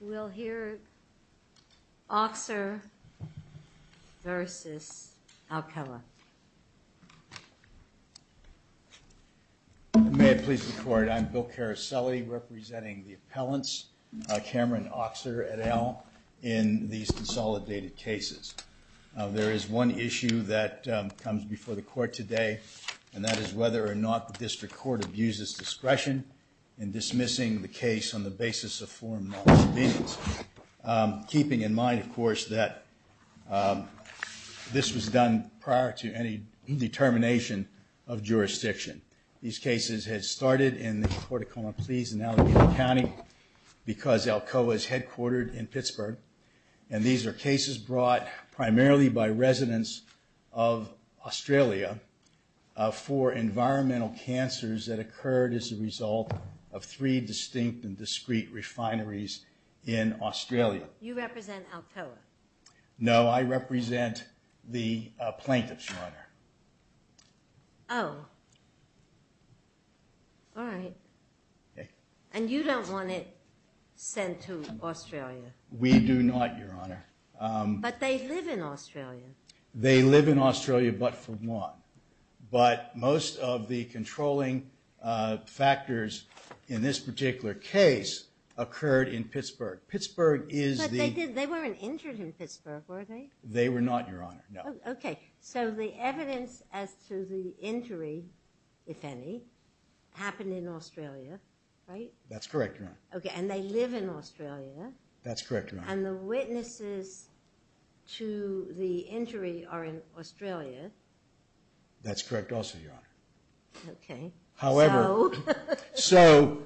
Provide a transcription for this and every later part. We'll hear Auxer v. Alcoa. May I please record I'm Bill Caroselli representing the appellants Cameron Auxer et al. in these consolidated cases. There is one issue that comes before the court today and that is whether or not the district court abuses discretion in dismissing the case on the basis of foreign law disobedience, keeping in mind of course that this was done prior to any determination of jurisdiction. These cases had started in the Port Acoma Pleas in Allegheny County because Alcoa is headquartered in Pittsburgh and these are cases brought primarily by residents of Australia for environmental cancers that occurred as a result of three distinct and discrete refineries in Australia. You represent Alcoa? No, I represent the plaintiffs, Your Honor. Oh, alright. And you don't want it sent to Australia? We do not, Your Honor. But they live in Australia? That's correct, Your Honor. Okay, and they live in Australia? That's correct, Your Honor. And the witnesses to the injury are in Australia? That's correct also, Your Honor. Okay. How long have they been in Australia? So,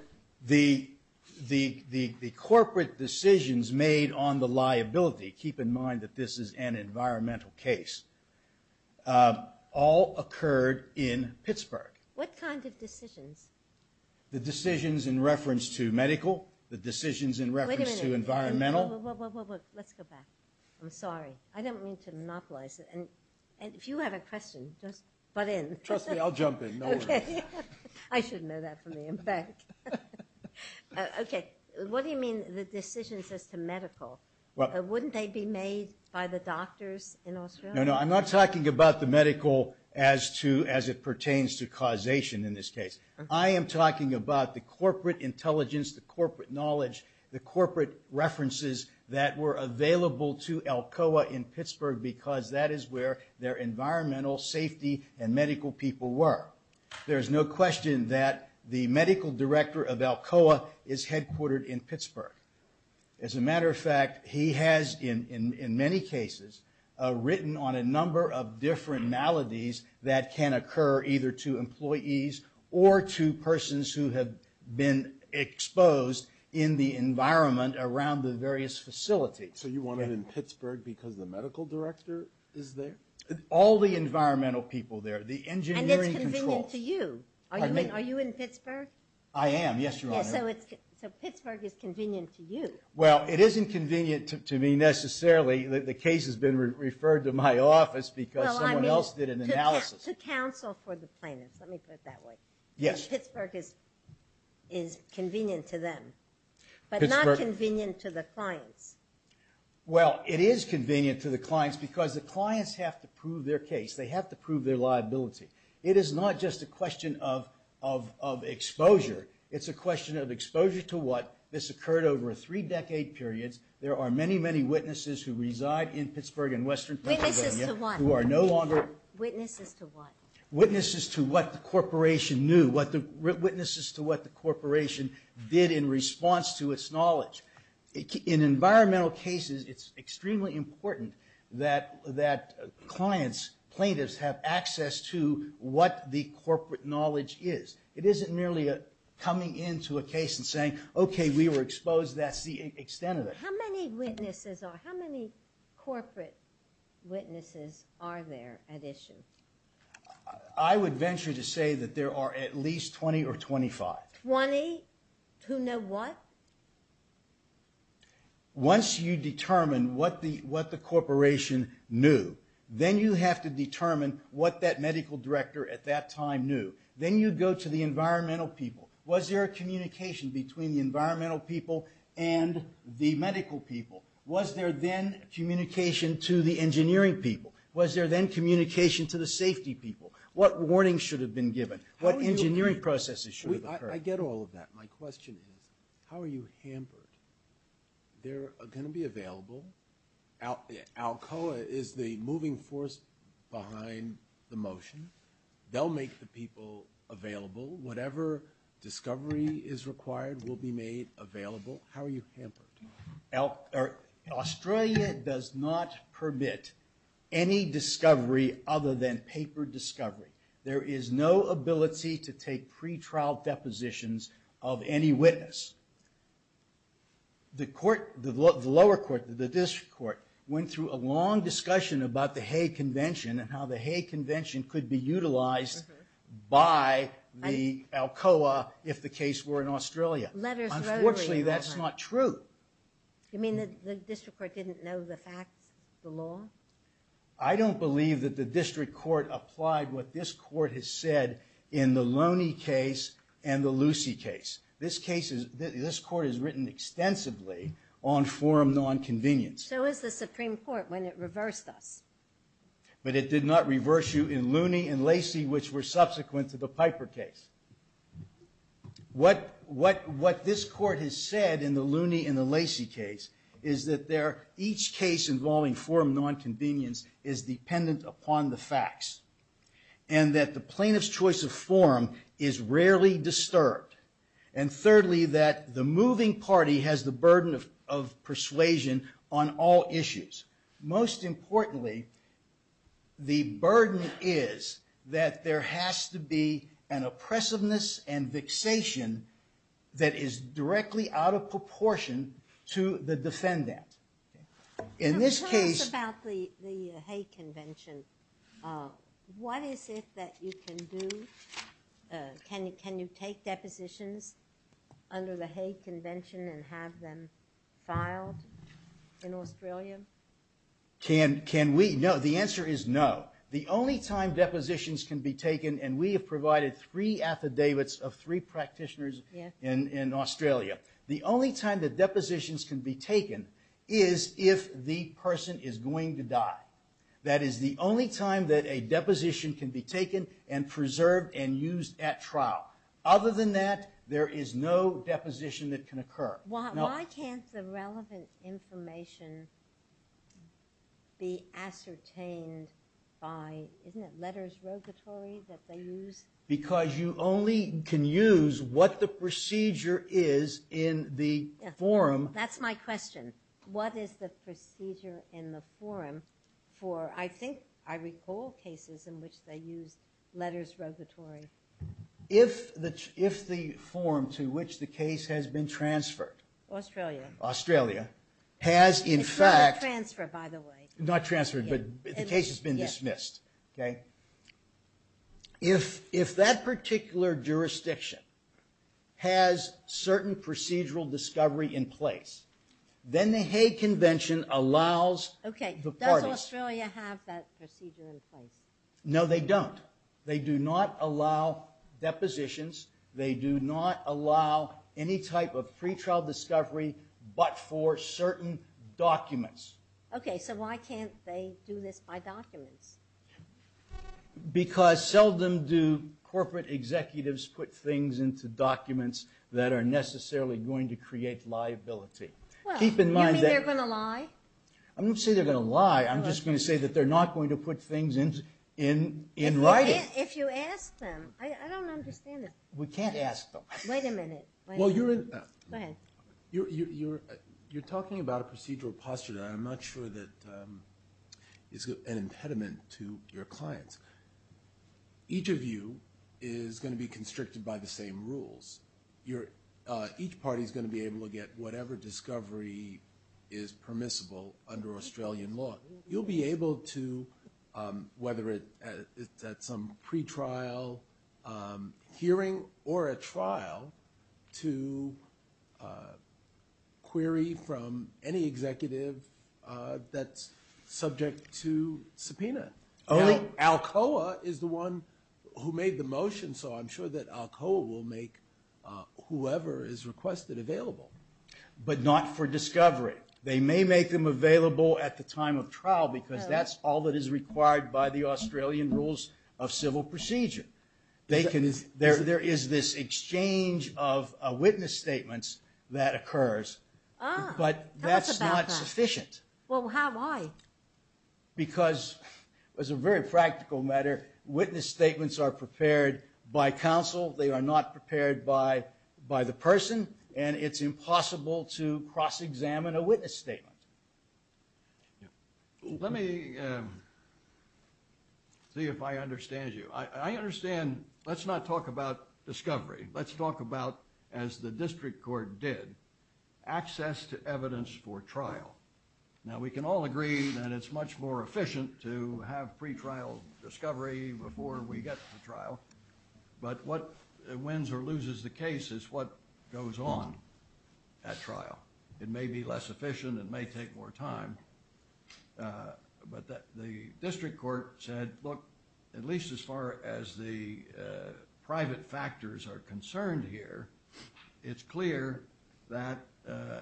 the corporate decisions made on the liability, keep in mind that this is an environmental case, all occurred in Pittsburgh. What kind of decisions? The decisions in reference to medical, the decisions in reference to environmental. Let's go back. I'm sorry. I don't mean to monopolize it and if you have a question, just butt in. Trust me, I'll jump in. I should know that from the impact. Okay, what do you mean the decisions as to medical? Wouldn't they be made by the doctors in Australia? No, no, I'm not talking about the medical as to, as it pertains to causation in this case. I am talking about the corporate intelligence, the corporate knowledge, the corporate references that were available to Alcoa in Pittsburgh because that is where their environmental safety and medical people were. There's no question that the medical director of Alcoa is headquartered in Pittsburgh. As a matter of fact, he has in many cases written on a number of different maladies that can occur either to employees or to persons who have been exposed in the environment around the various facilities. So you want it in Pittsburgh because the medical director is there? All the environmental people there, the engineering controls. And it's convenient to you. Are you in Pittsburgh? I am, yes, Your Honor. So Pittsburgh is convenient to you. Well, it isn't convenient to me necessarily. The case has been referred to my office because someone else did an analysis. To counsel for the plaintiffs. Let me put it that way. Yes. Pittsburgh is convenient to them, but not convenient to the clients. Well, it is convenient to the clients because the clients have to prove their case. They have to prove their liability. It is not just a question of exposure. It's a question of exposure to what. This occurred over three decade periods. There are many, many witnesses who reside in Pittsburgh and Western Pennsylvania. Witnesses to what? Witnesses to what the corporation knew. Witnesses to what the corporation did in response to its environmental cases. It's extremely important that clients, plaintiffs, have access to what the corporate knowledge is. It isn't merely coming into a case and saying, okay, we were exposed. That's the extent of it. How many witnesses are, how many corporate witnesses are there at issue? I would Once you determine what the corporation knew, then you have to determine what that medical director at that time knew. Then you go to the environmental people. Was there a communication between the environmental people and the medical people? Was there then communication to the engineering people? Was there then communication to the safety people? What warnings should have been given? What engineering processes should have occurred? I get all of that. My question is, how are you hampered? They're going to be available. Alcoa is the moving force behind the motion. They'll make the people available. Whatever discovery is required will be made available. How are you hampered? Australia does not permit any discovery other than paper discovery. There is no ability to take pretrial depositions of any witness. The lower court, the district court, went through a long discussion about the Hague Convention and how the Hague Convention could be utilized by the Alcoa if the case were in Australia. Unfortunately, that's not true. You mean the district court didn't know the facts, the law? I don't believe that the district court applied what this court has said in the Loney case and the Lucy case. This court has written extensively on forum non-convenience. So has the Supreme Court when it reversed us. But it did not reverse you in what this court has said in the Loney and the Lacy case is that each case involving forum non-convenience is dependent upon the facts. And that the plaintiff's choice of forum is rarely disturbed. And thirdly, that the moving party has the burden of persuasion on all issues. Most importantly, the burden is that there has to be an argument that is directly out of proportion to the defendant. In this case... Tell us about the Hague Convention. What is it that you can do? Can you take depositions under the Hague Convention and have them filed in Australia? Can we? No, the answer is no. The only time depositions can be taken, and we have provided three affidavits of three practitioners in Australia. The only time that depositions can be taken is if the person is going to die. That is the only time that a deposition can be taken and preserved and used at trial. Other than that, there is no deposition that can occur. Why can't the relevant information be ascertained by, isn't it letters rogatory that they use? Because you only can use what the procedure is in the forum. That's my question. What is the procedure in the forum for, I think, I recall cases in which they use letters rogatory. If the forum to which the case has been transferred, Australia, has in fact... It's not transferred, by the way. Not transferred, but the case has been dismissed. If that particular jurisdiction has certain procedural discovery in place, then the Hague Convention allows the parties... Does Australia have that procedure in place? No, they don't. They do not allow depositions. They do not allow any type of pretrial discovery but for certain documents. Okay, so why can't they do this by documents? Because seldom do corporate executives put things into documents that are necessarily going to create liability. Well, you mean they're going to lie? I'm not going to say they're going to lie. I'm just going to say that they're not going to put things in writing. If you ask them. I don't understand this. We can't ask them. Wait a minute. Well, you're... Go ahead. You're talking about a procedural posture that I'm not sure that is an impediment to your clients. Each of you is going to be constricted by the same rules. Each party is going to be able to get whatever discovery is permissible under Australian law. You'll be able to, whether it's at some pretrial hearing or a trial, to query from any executive that's subject to subpoena. Alcoa is the one who made the motion, so I'm sure that Alcoa will make whoever is requested available. But not for discovery. They may make them available at the time of trial because that's all that is required by the Australian rules of civil procedure. There is this exchange of witness statements that occurs, but that's not sufficient. Tell us about that. Well, how, why? Because, as a very practical matter, witness statements are prepared by counsel. They are not prepared by the person, and it's impossible to cross-examine a witness statement. Let me see if I understand you. I understand... Let's not talk about discovery. Let's talk about, as the district court did, access to evidence for trial. Now, we can all agree that it's much more efficient to have pretrial discovery before we get to trial, but what wins or loses the case is what goes on at trial. It may be less efficient. It may take more time. But the district court said, look, at least as far as the private factors are concerned here, it's clear that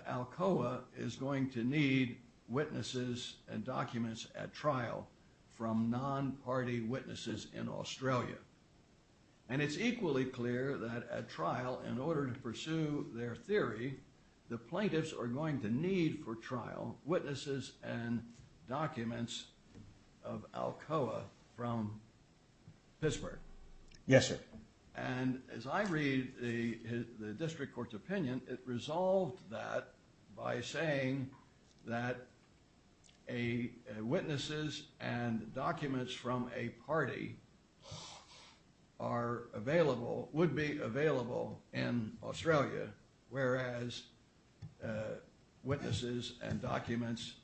Alcoa is going to need witnesses and documents at trial from non-party witnesses in Australia. And it's equally clear that at trial, in order to pursue their theory, the plaintiffs are going to need for trial witnesses and documents of Alcoa from Pittsburgh. Yes, sir. And as I read the district court's opinion, it resolved that by saying that witnesses and documents from a party are available, would be available in Australia, whereas witnesses and documents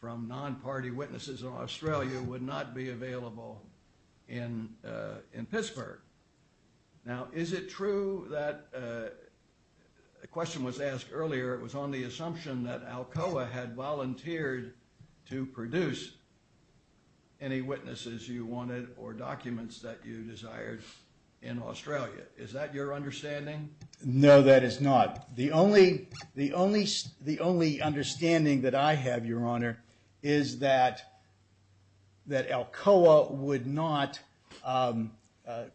from non-party witnesses in Australia would not be available in Pittsburgh. Now, is it true that a question was asked earlier, it was on the assumption that Alcoa had volunteered to produce any witnesses you wanted or documents that you desired in Australia. Is that your understanding? No, that is not. The only understanding that I have, Your Honor, is that Alcoa would not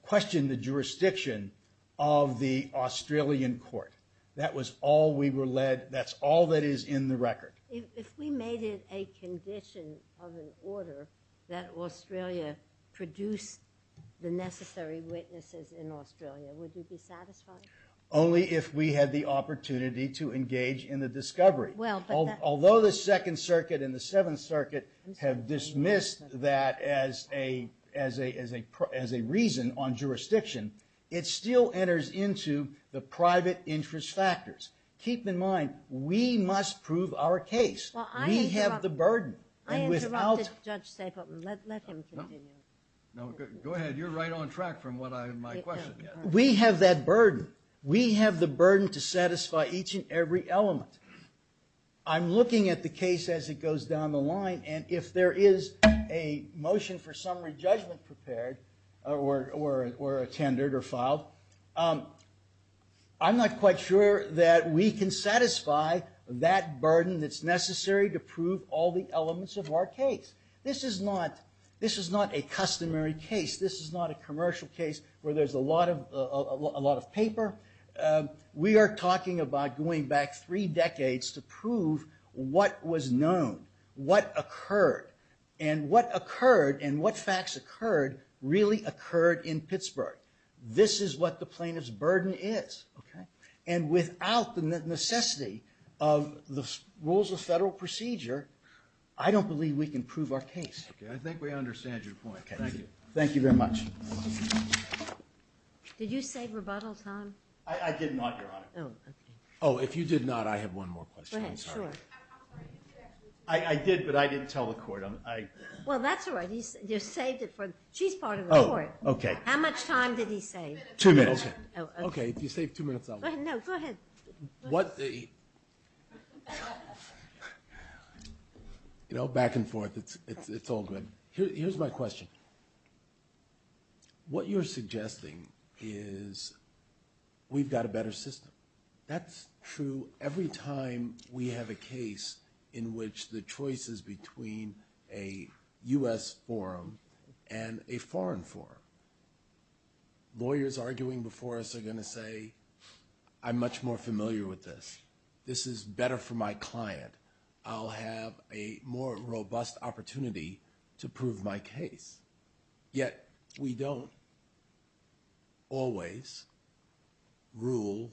question the jurisdiction of the Australian court. That was all we were led, that's all that is in the record. If we made it a condition of an order that Australia produce the necessary witnesses in Australia, would you be satisfied? Only if we had the opportunity to engage in the discovery. Although the Second Circuit and the Seventh Circuit have dismissed that as a reason on jurisdiction, it still enters into the private interest factors. Keep in mind, we must prove our case. We have the burden. I interrupted Judge Stapleman. Let him continue. No, go ahead. You're right on track from my question. We have that burden. We have the burden to satisfy each and every element. I'm looking at the case as it goes down the line, and if there is a motion for summary judgment prepared or attended or filed, I'm not quite sure that we can satisfy that burden that's necessary to prove all the elements of our case. This is not a customary case. This is not a commercial case where there's a lot of paper. We are talking about going back three decades to prove what was known, what occurred, and what occurred and what facts occurred really occurred in Pittsburgh. This is what the plaintiff's burden is. And without the necessity of the rules of federal procedure, I don't believe we can prove our case. I think we understand your point. Thank you. Thank you very much. Did you save rebuttal time? I did not, Your Honor. Oh, okay. Oh, if you did not, I have one more question. Go ahead. Sure. I did, but I didn't tell the court. Well, that's all right. You saved it. She's part of the court. Oh, okay. How much time did he save? Two minutes. Okay. If you save two minutes, I'll go. No, go ahead. What the? You know, back and forth, it's all good. Here's my question. What you're suggesting is we've got a better system. That's true every time we have a case in which the choice is between a U.S. forum and a foreign forum. Lawyers arguing before us are going to say, I'm much more familiar with this. This is better for my client. I'll have a more robust opportunity to prove my case. Yet, we don't always rule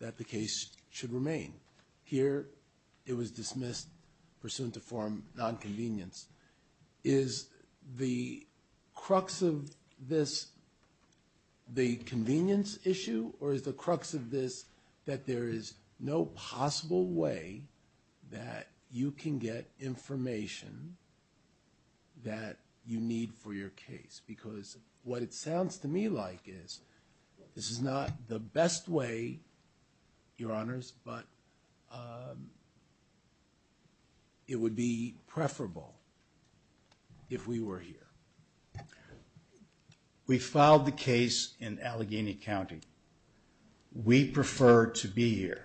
that the case should remain. Here, it was dismissed pursuant to forum nonconvenience. Is the crux of this the convenience issue? Or is the crux of this that there is no possible way that you can get information that you need for your case? Because what it sounds to me like is this is not the best way, Your Honors, but it would be preferable if we were here. We filed the case in Allegheny County. We prefer to be here.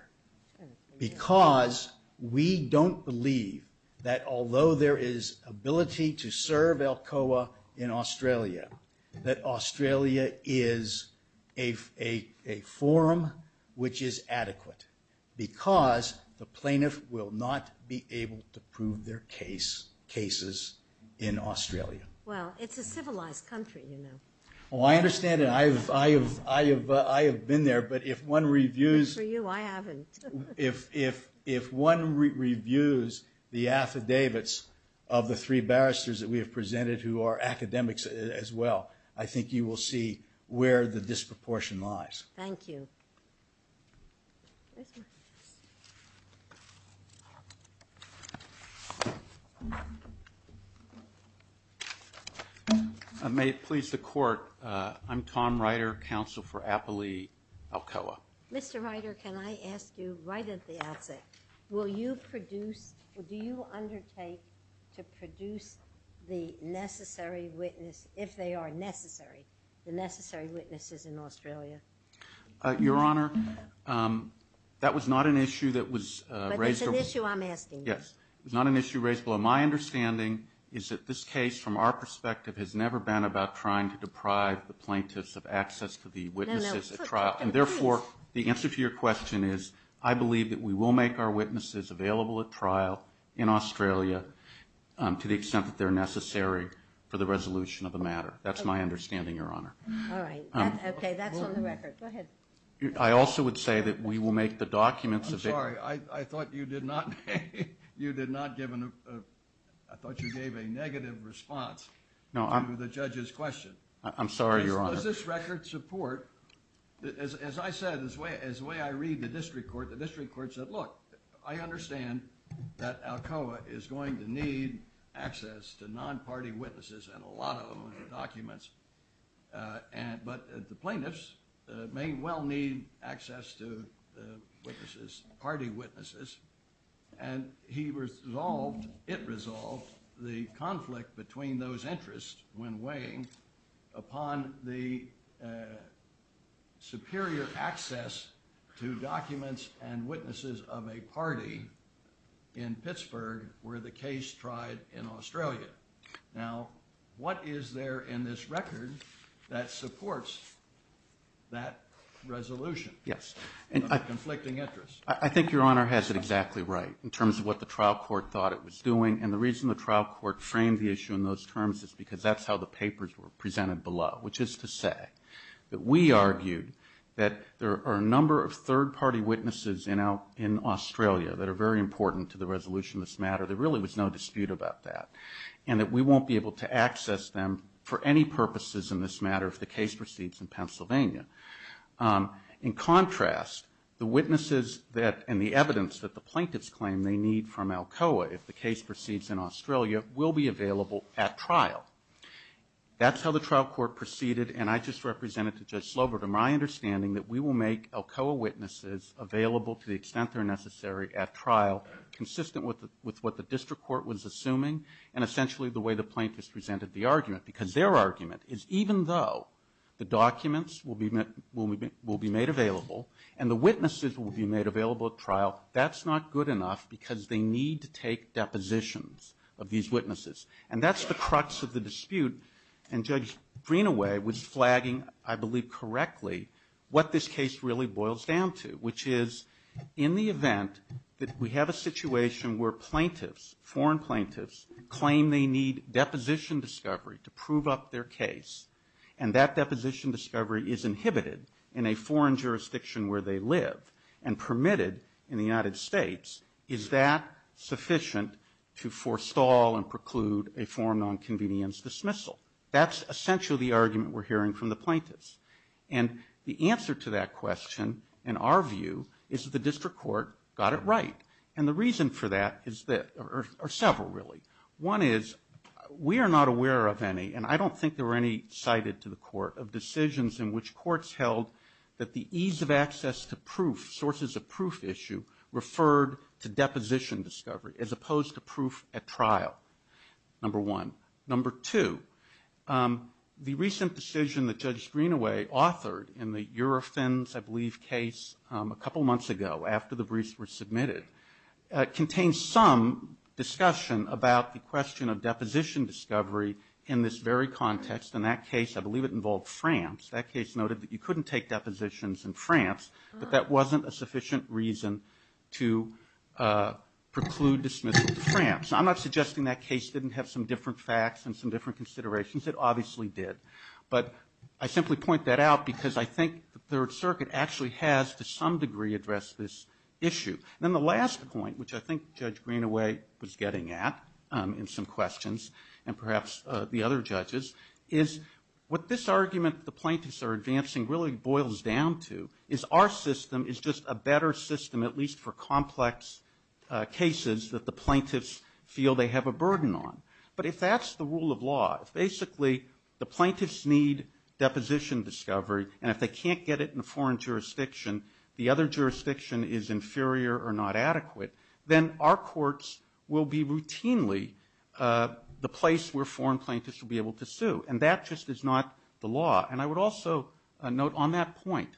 Because we don't believe that although there is ability to serve Alcoa in Australia, that Australia is a forum which is adequate. Because the plaintiff will not be able to prove their cases in Australia. Well, it's a civilized country, you know. Oh, I understand that. I have been there. Good for you, I haven't. If one reviews the affidavits of the three barristers that we have presented who are academics as well, I think you will see where the disproportion lies. Thank you. May it please the Court. I'm Tom Ryder, counsel for Appley Alcoa. Mr. Ryder, can I ask you right at the outset, will you produce, do you undertake to produce the necessary witness, if they are necessary, the necessary witnesses in Australia? Your Honor, that was not an issue that was raised. But it's an issue I'm asking you. Yes, it's not an issue raised. Well, my understanding is that this case, from our perspective, has never been about trying to deprive the plaintiffs of access to the witnesses at trial. And therefore, the answer to your question is, I believe that we will make our witnesses available at trial in Australia to the extent that they're necessary for the resolution of the matter. That's my understanding, Your Honor. All right. Okay, that's on the record. Go ahead. I also would say that we will make the documents available. I'm sorry. I thought you did not, you did not give a, I thought you gave a negative response to the judge's question. I'm sorry, Your Honor. Does this record support, as I said, as the way I read the district court, the district court said, look, I understand that Alcoa is going to need access to non-party witnesses and a lot of documents. But the plaintiffs may well need access to the witnesses, party witnesses. And he resolved, it resolved the conflict between those interests when weighing upon the superior access to documents and witnesses of a party in Pittsburgh where the case tried in Australia. Now, what is there in this record that supports that resolution? Yes. Conflicting interests. I think Your Honor has it exactly right in terms of what the trial court thought it was doing. And the reason the trial court framed the issue in those terms is because that's how the papers were presented below, which is to say that we argued that there are a number of third-party witnesses in Australia that are very important to the resolution of this matter. There really was no dispute about that. And that we won't be able to access them for any purposes in this matter if the case proceeds in Pennsylvania. In contrast, the witnesses and the evidence that the plaintiffs claim they need from Alcoa if the case proceeds in Australia will be available at trial. That's how the trial court proceeded. And I just represented to Judge Slover to my understanding that we will make Alcoa witnesses available to the extent they're necessary at trial consistent with what the district court was assuming and essentially the way the plaintiffs presented the argument. Because their argument is even though the documents will be made available and the witnesses will be made available at trial, that's not good enough because they need to take depositions of these witnesses. And that's the crux of the dispute. And Judge Greenaway was flagging, I believe correctly, what this case really boils down to, which is in the event that we have a situation where plaintiffs, foreign plaintiffs, claim they need deposition discovery to prove up their case and that deposition discovery is inhibited in a foreign jurisdiction where they live and permitted in the United States, is that sufficient to forestall and preclude a foreign nonconvenience dismissal? That's essentially the argument we're hearing from the plaintiffs. And the answer to that question, in our view, is the district court got it right. And the reason for that is that, or several really. One is we are not aware of any, and I don't think there were any cited to the court, of decisions in which courts held that the ease of access to proof, sources of proof issue, referred to deposition discovery as opposed to proof at trial, number one. Number two, the recent decision that Judge Greenaway authored in the Eurofins, I believe, case a couple months ago, after the briefs were submitted, contains some discussion about the question of deposition discovery in this very context. In that case, I believe it involved France. That case noted that you couldn't take depositions in France, but that wasn't a sufficient reason to preclude dismissal to France. I'm not suggesting that case didn't have some different facts and some different considerations. It obviously did. But I simply point that out because I think the Third Circuit actually has, to some degree, addressed this issue. Then the last point, which I think Judge Greenaway was getting at in some questions, and perhaps the other judges, is what this argument the plaintiffs are advancing really boils down to, is our system is just a better system, at least for complex cases that the plaintiffs feel they have a burden on. But if that's the rule of law, if basically the plaintiffs need deposition discovery, and if they can't get it in a foreign jurisdiction, the other jurisdiction is inferior or not adequate, then our courts will be routinely the place where foreign plaintiffs will be able to sue. And I would also note on that point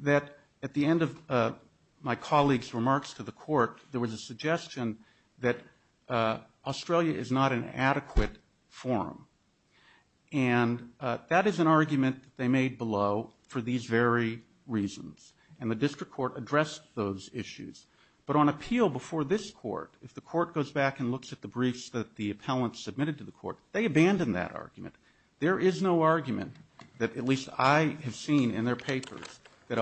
that at the end of my colleagues' remarks to the court, there was a suggestion that Australia is not an adequate forum. And that is an argument they made below for these very reasons. And the district court addressed those issues. But on appeal before this court, if the court goes back and looks at the briefs that the appellant submitted to the court, they abandon that argument. There is no argument that, at least I have seen in their papers, that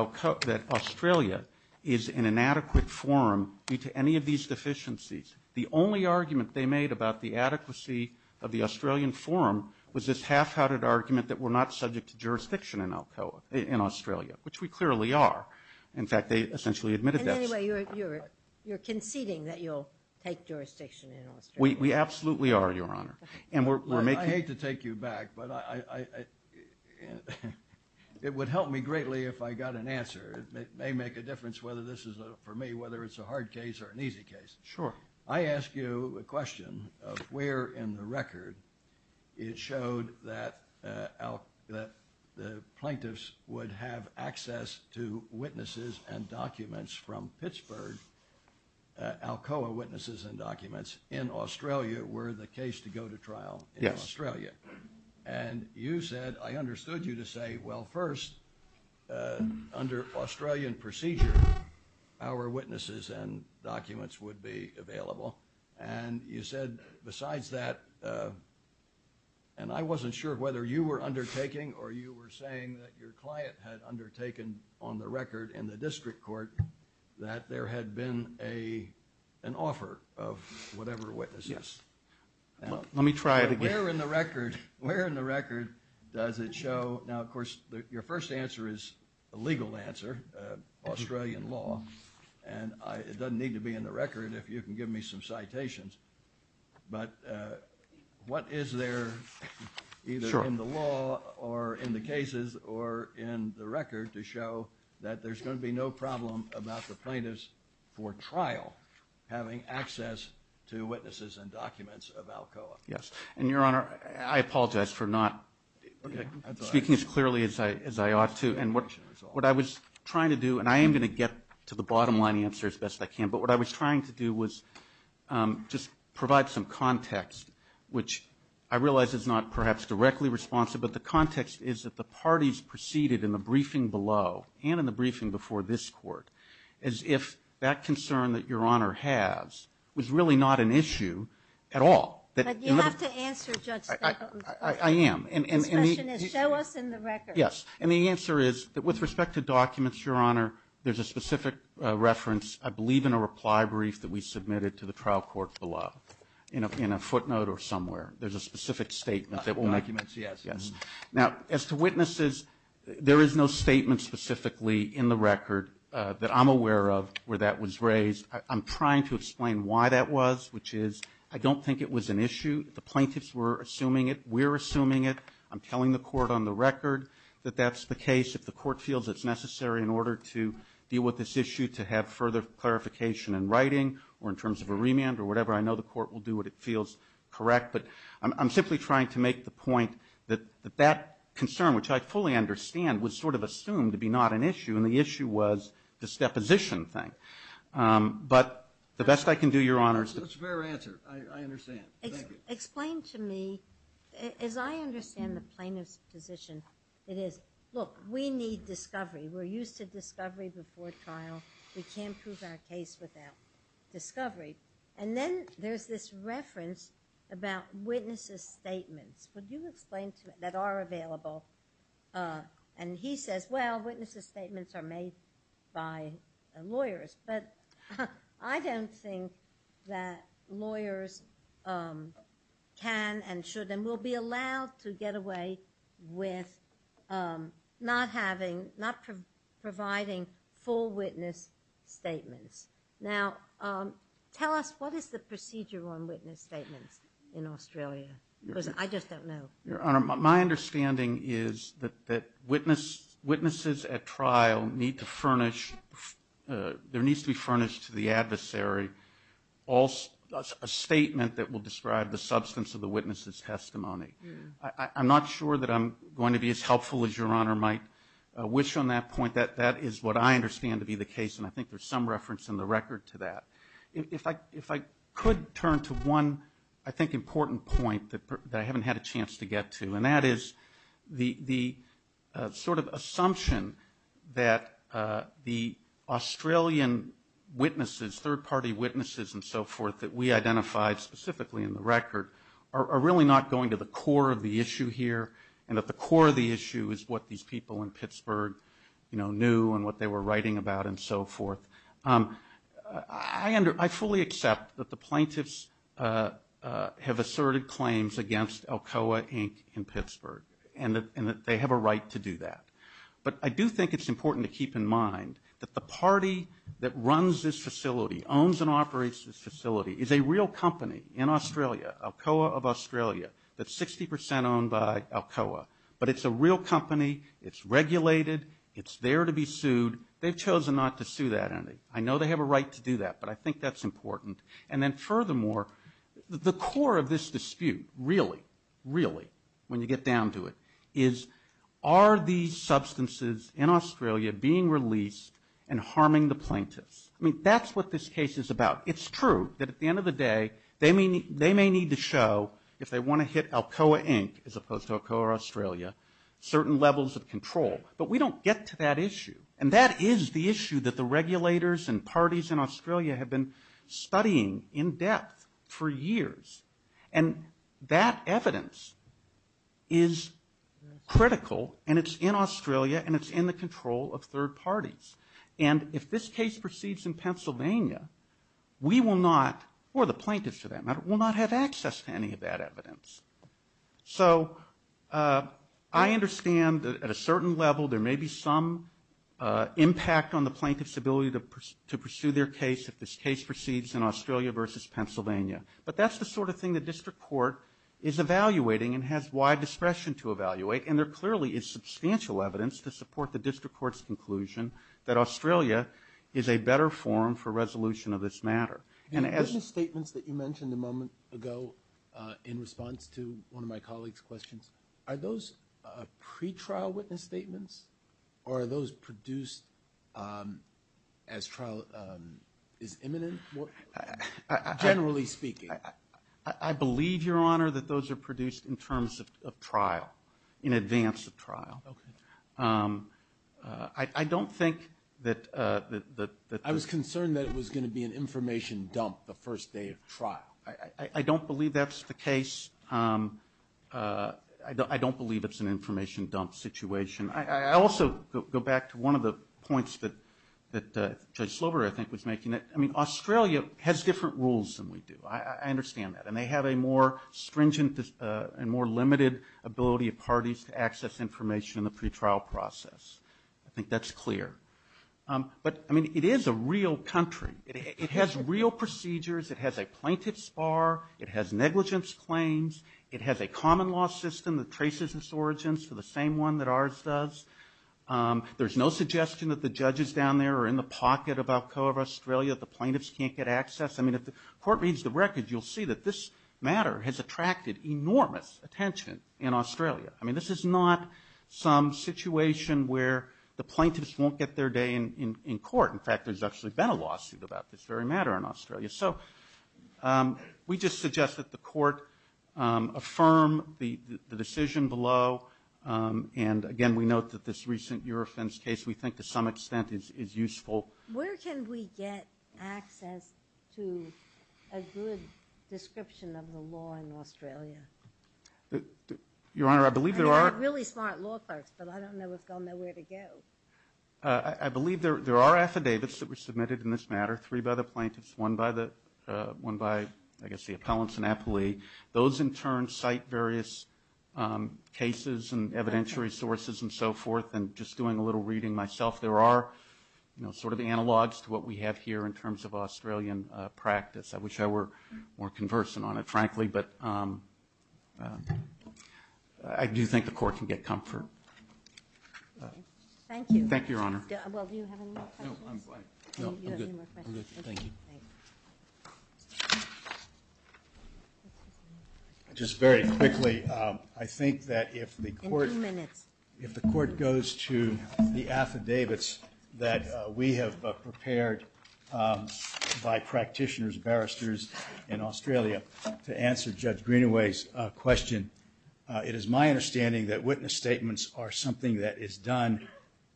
Australia is an inadequate forum due to any of these deficiencies. The only argument they made about the adequacy of the Australian forum was this half-hearted argument that we're not subject to jurisdiction in Australia, which we clearly are. In fact, they essentially admitted that. And anyway, you're conceding that you'll take jurisdiction in Australia. We absolutely are, Your Honor. I hate to take you back, but it would help me greatly if I got an answer. It may make a difference whether this is, for me, whether it's a hard case or an easy case. Sure. I ask you a question of where in the record it showed that the plaintiffs would have access to witnesses and documents from Pittsburgh, Alcoa witnesses and documents in Australia were the case to go to trial in Australia. Yes. And you said – I understood you to say, well, first, under Australian procedure, our witnesses and documents would be available. And you said besides that – and I wasn't sure whether you were undertaking or you were saying that your client had undertaken on the record in the district court that there had been an offer of whatever witnesses. Yes. Let me try it again. Where in the record does it show – now, of course, your first answer is a legal answer, Australian law, and it doesn't need to be in the record if you can give me some citations. But what is there either in the law or in the cases or in the record to show that there's going to be no problem about the plaintiffs for trial having access to witnesses and documents of Alcoa? Yes. And, Your Honor, I apologize for not speaking as clearly as I ought to. And what I was trying to do – and I am going to get to the bottom line answer as best I can. But what I was trying to do was just provide some context, which I realize is not perhaps directly responsive. But the context is that the parties preceded in the briefing below and in the briefing before this Court as if that concern that Your Honor has was really not an issue at all. But you have to answer, Judge Stengel. I am. His question is show us in the record. Yes. And the answer is that with respect to documents, Your Honor, there's a specific reference, I believe, in a reply brief that we submitted to the trial court below in a footnote or somewhere. There's a specific statement that we'll make. Documents, yes. Yes. Now, as to witnesses, there is no statement specifically in the record that I'm aware of where that was raised. I'm trying to explain why that was, which is I don't think it was an issue. The plaintiffs were assuming it. We're assuming it. I'm telling the court on the record that that's the case. If the court feels it's necessary in order to deal with this issue to have further clarification in writing or in terms of a remand or whatever, I know the court will do what it feels correct. But I'm simply trying to make the point that that concern, which I fully understand, was sort of assumed to be not an issue, and the issue was this deposition thing. But the best I can do, Your Honor, is to ---- That's a fair answer. I understand. Thank you. Explain to me, as I understand the plaintiff's position, it is, look, we need discovery. We're used to discovery before trial. We can't prove our case without discovery. And then there's this reference about witnesses' statements. Would you explain to me that are available? And he says, well, witnesses' statements are made by lawyers. But I don't think that lawyers can and should and will be allowed to get away with not having, not providing full witness statements. Now, tell us, what is the procedure on witness statements in Australia? Because I just don't know. Your Honor, my understanding is that witnesses at trial need to furnish, there needs to be furnished to the adversary a statement that will describe the substance of the witness's testimony. I'm not sure that I'm going to be as helpful as Your Honor might wish on that point. That is what I understand to be the case, and I think there's some reference in the record to that. If I could turn to one, I think, important point that I haven't had a chance to get to, and that is the sort of assumption that the Australian witnesses, third-party witnesses and so forth that we identified specifically in the record are really not going to the core of the issue here, and that the core of the issue is what these people in Pittsburgh, you know, knew and what they were writing about and so forth. I fully accept that the plaintiffs have asserted claims against Alcoa, Inc. in Pittsburgh, and that they have a right to do that. But I do think it's important to keep in mind that the party that runs this facility, owns and operates this facility, is a real company in Australia, Alcoa of Australia, that's 60 percent owned by Alcoa, but it's a real company, it's regulated, it's there to be sued. They've chosen not to sue that entity. I know they have a right to do that, but I think that's important. And then furthermore, the core of this dispute, really, really, when you get down to it, is are these substances in Australia being released and harming the plaintiffs? I mean, that's what this case is about. It's true that at the end of the day, they may need to show, if they want to hit Alcoa, Inc., as opposed to Alcoa, Australia, certain levels of control. But we don't get to that issue. And that is the issue that the regulators and parties in Australia have been studying in depth for years. And that evidence is critical, and it's in Australia, and it's in the control of third parties. And if this case proceeds in Pennsylvania, we will not, or the plaintiffs, for that matter, will not have access to any of that evidence. So I understand that at a certain level, there may be some impact on the plaintiff's ability to pursue their case if this case proceeds in Australia versus Pennsylvania. But that's the sort of thing the district court is evaluating and has wide discretion to evaluate. And there clearly is substantial evidence to support the district court's conclusion that Australia is a better forum for resolution of this matter. The witness statements that you mentioned a moment ago in response to one of my colleagues' questions, are those pretrial witness statements, or are those produced as trial is imminent, generally speaking? I believe, Your Honor, that those are produced in terms of trial, in advance of trial. Okay. I don't think that the – I was concerned that it was going to be an information dump the first day of trial. I don't believe that's the case. I don't believe it's an information dump situation. I also go back to one of the points that Judge Slover, I think, was making. I mean, Australia has different rules than we do. I understand that. And they have a more stringent and more limited ability of parties to access information in the pretrial process. I think that's clear. But, I mean, it is a real country. It has real procedures. It has a plaintiff's bar. It has negligence claims. It has a common law system that traces its origins to the same one that ours does. There's no suggestion that the judges down there are in the pocket of Alcoa of Australia, that the plaintiffs can't get access. I mean, if the court reads the record, you'll see that this matter has attracted enormous attention in Australia. I mean, this is not some situation where the plaintiffs won't get their day in court. In fact, there's actually been a lawsuit about this very matter in Australia. So we just suggest that the court affirm the decision below. And, again, we note that this recent Eurofence case we think to some extent is useful. Where can we get access to a good description of the law in Australia? Your Honor, I believe there are. I mean, we're really smart law clerks, but I don't know if they'll know where to go. I believe there are affidavits that were submitted in this matter, three by the plaintiffs, one by, I guess, the appellants and appellee. Those, in turn, cite various cases and evidentiary sources and so forth. And just doing a little reading myself, there are sort of analogs to what we have here in terms of Australian practice. I wish I were more conversant on it, frankly, but I do think the court can get comfort. Thank you. Thank you, Your Honor. Well, do you have any more questions? No, I'm fine. No, I'm good. I'm good. Thank you. Just very quickly, I think that if the court- In two minutes. in Australia to answer Judge Greenaway's question. It is my understanding that witness statements are something that is done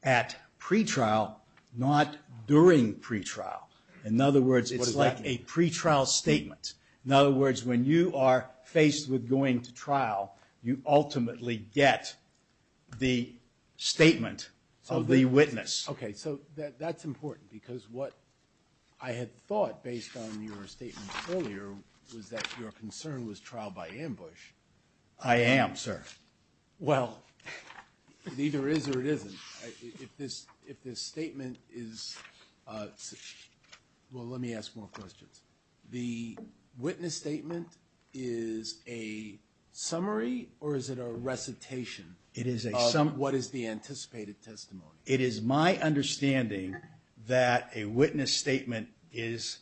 at pretrial, not during pretrial. In other words, it's like a pretrial statement. In other words, when you are faced with going to trial, you ultimately get the statement of the witness. Okay. So that's important because what I had thought, based on your statement earlier, was that your concern was trial by ambush. I am, sir. Well, it either is or it isn't. If this statement is – well, let me ask more questions. The witness statement is a summary or is it a recitation of what is the anticipated testimony? It is my understanding that a witness statement is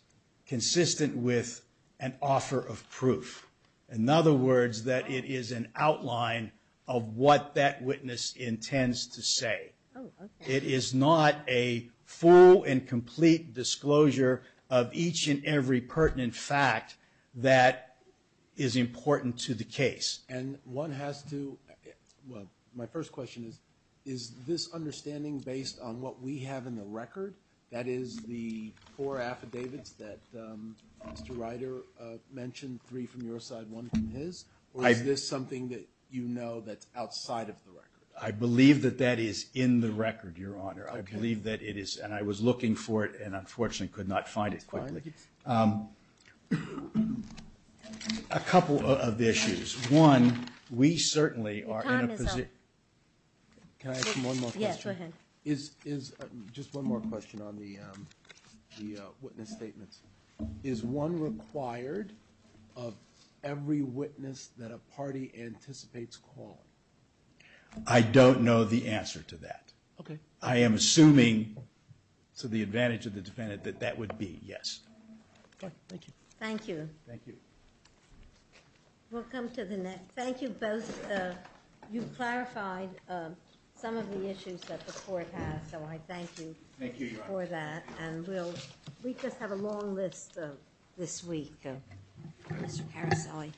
consistent with an offer of proof. In other words, that it is an outline of what that witness intends to say. Oh, okay. It is not a full and complete disclosure of each and every pertinent fact that is important to the case. And one has to – well, my first question is, is this understanding based on what we have in the record, that is, the four affidavits that Mr. Ryder mentioned, three from your side, one from his? Or is this something that you know that's outside of the record? I believe that that is in the record, Your Honor. Okay. I believe that it is, and I was looking for it and unfortunately could not find it quickly. That's fine. Thank you. A couple of issues. One, we certainly are in a position – Your time is up. Can I ask you one more question? Yes, go ahead. Just one more question on the witness statements. Is one required of every witness that a party anticipates calling? I don't know the answer to that. Okay. I am assuming, to the advantage of the defendant, that that would be yes. Thank you. Thank you. Thank you. We'll come to the next – thank you both. You clarified some of the issues that the court has, so I thank you for that. Thank you, Your Honor. And we'll – we just have a long list this week, Mr. Caroselli.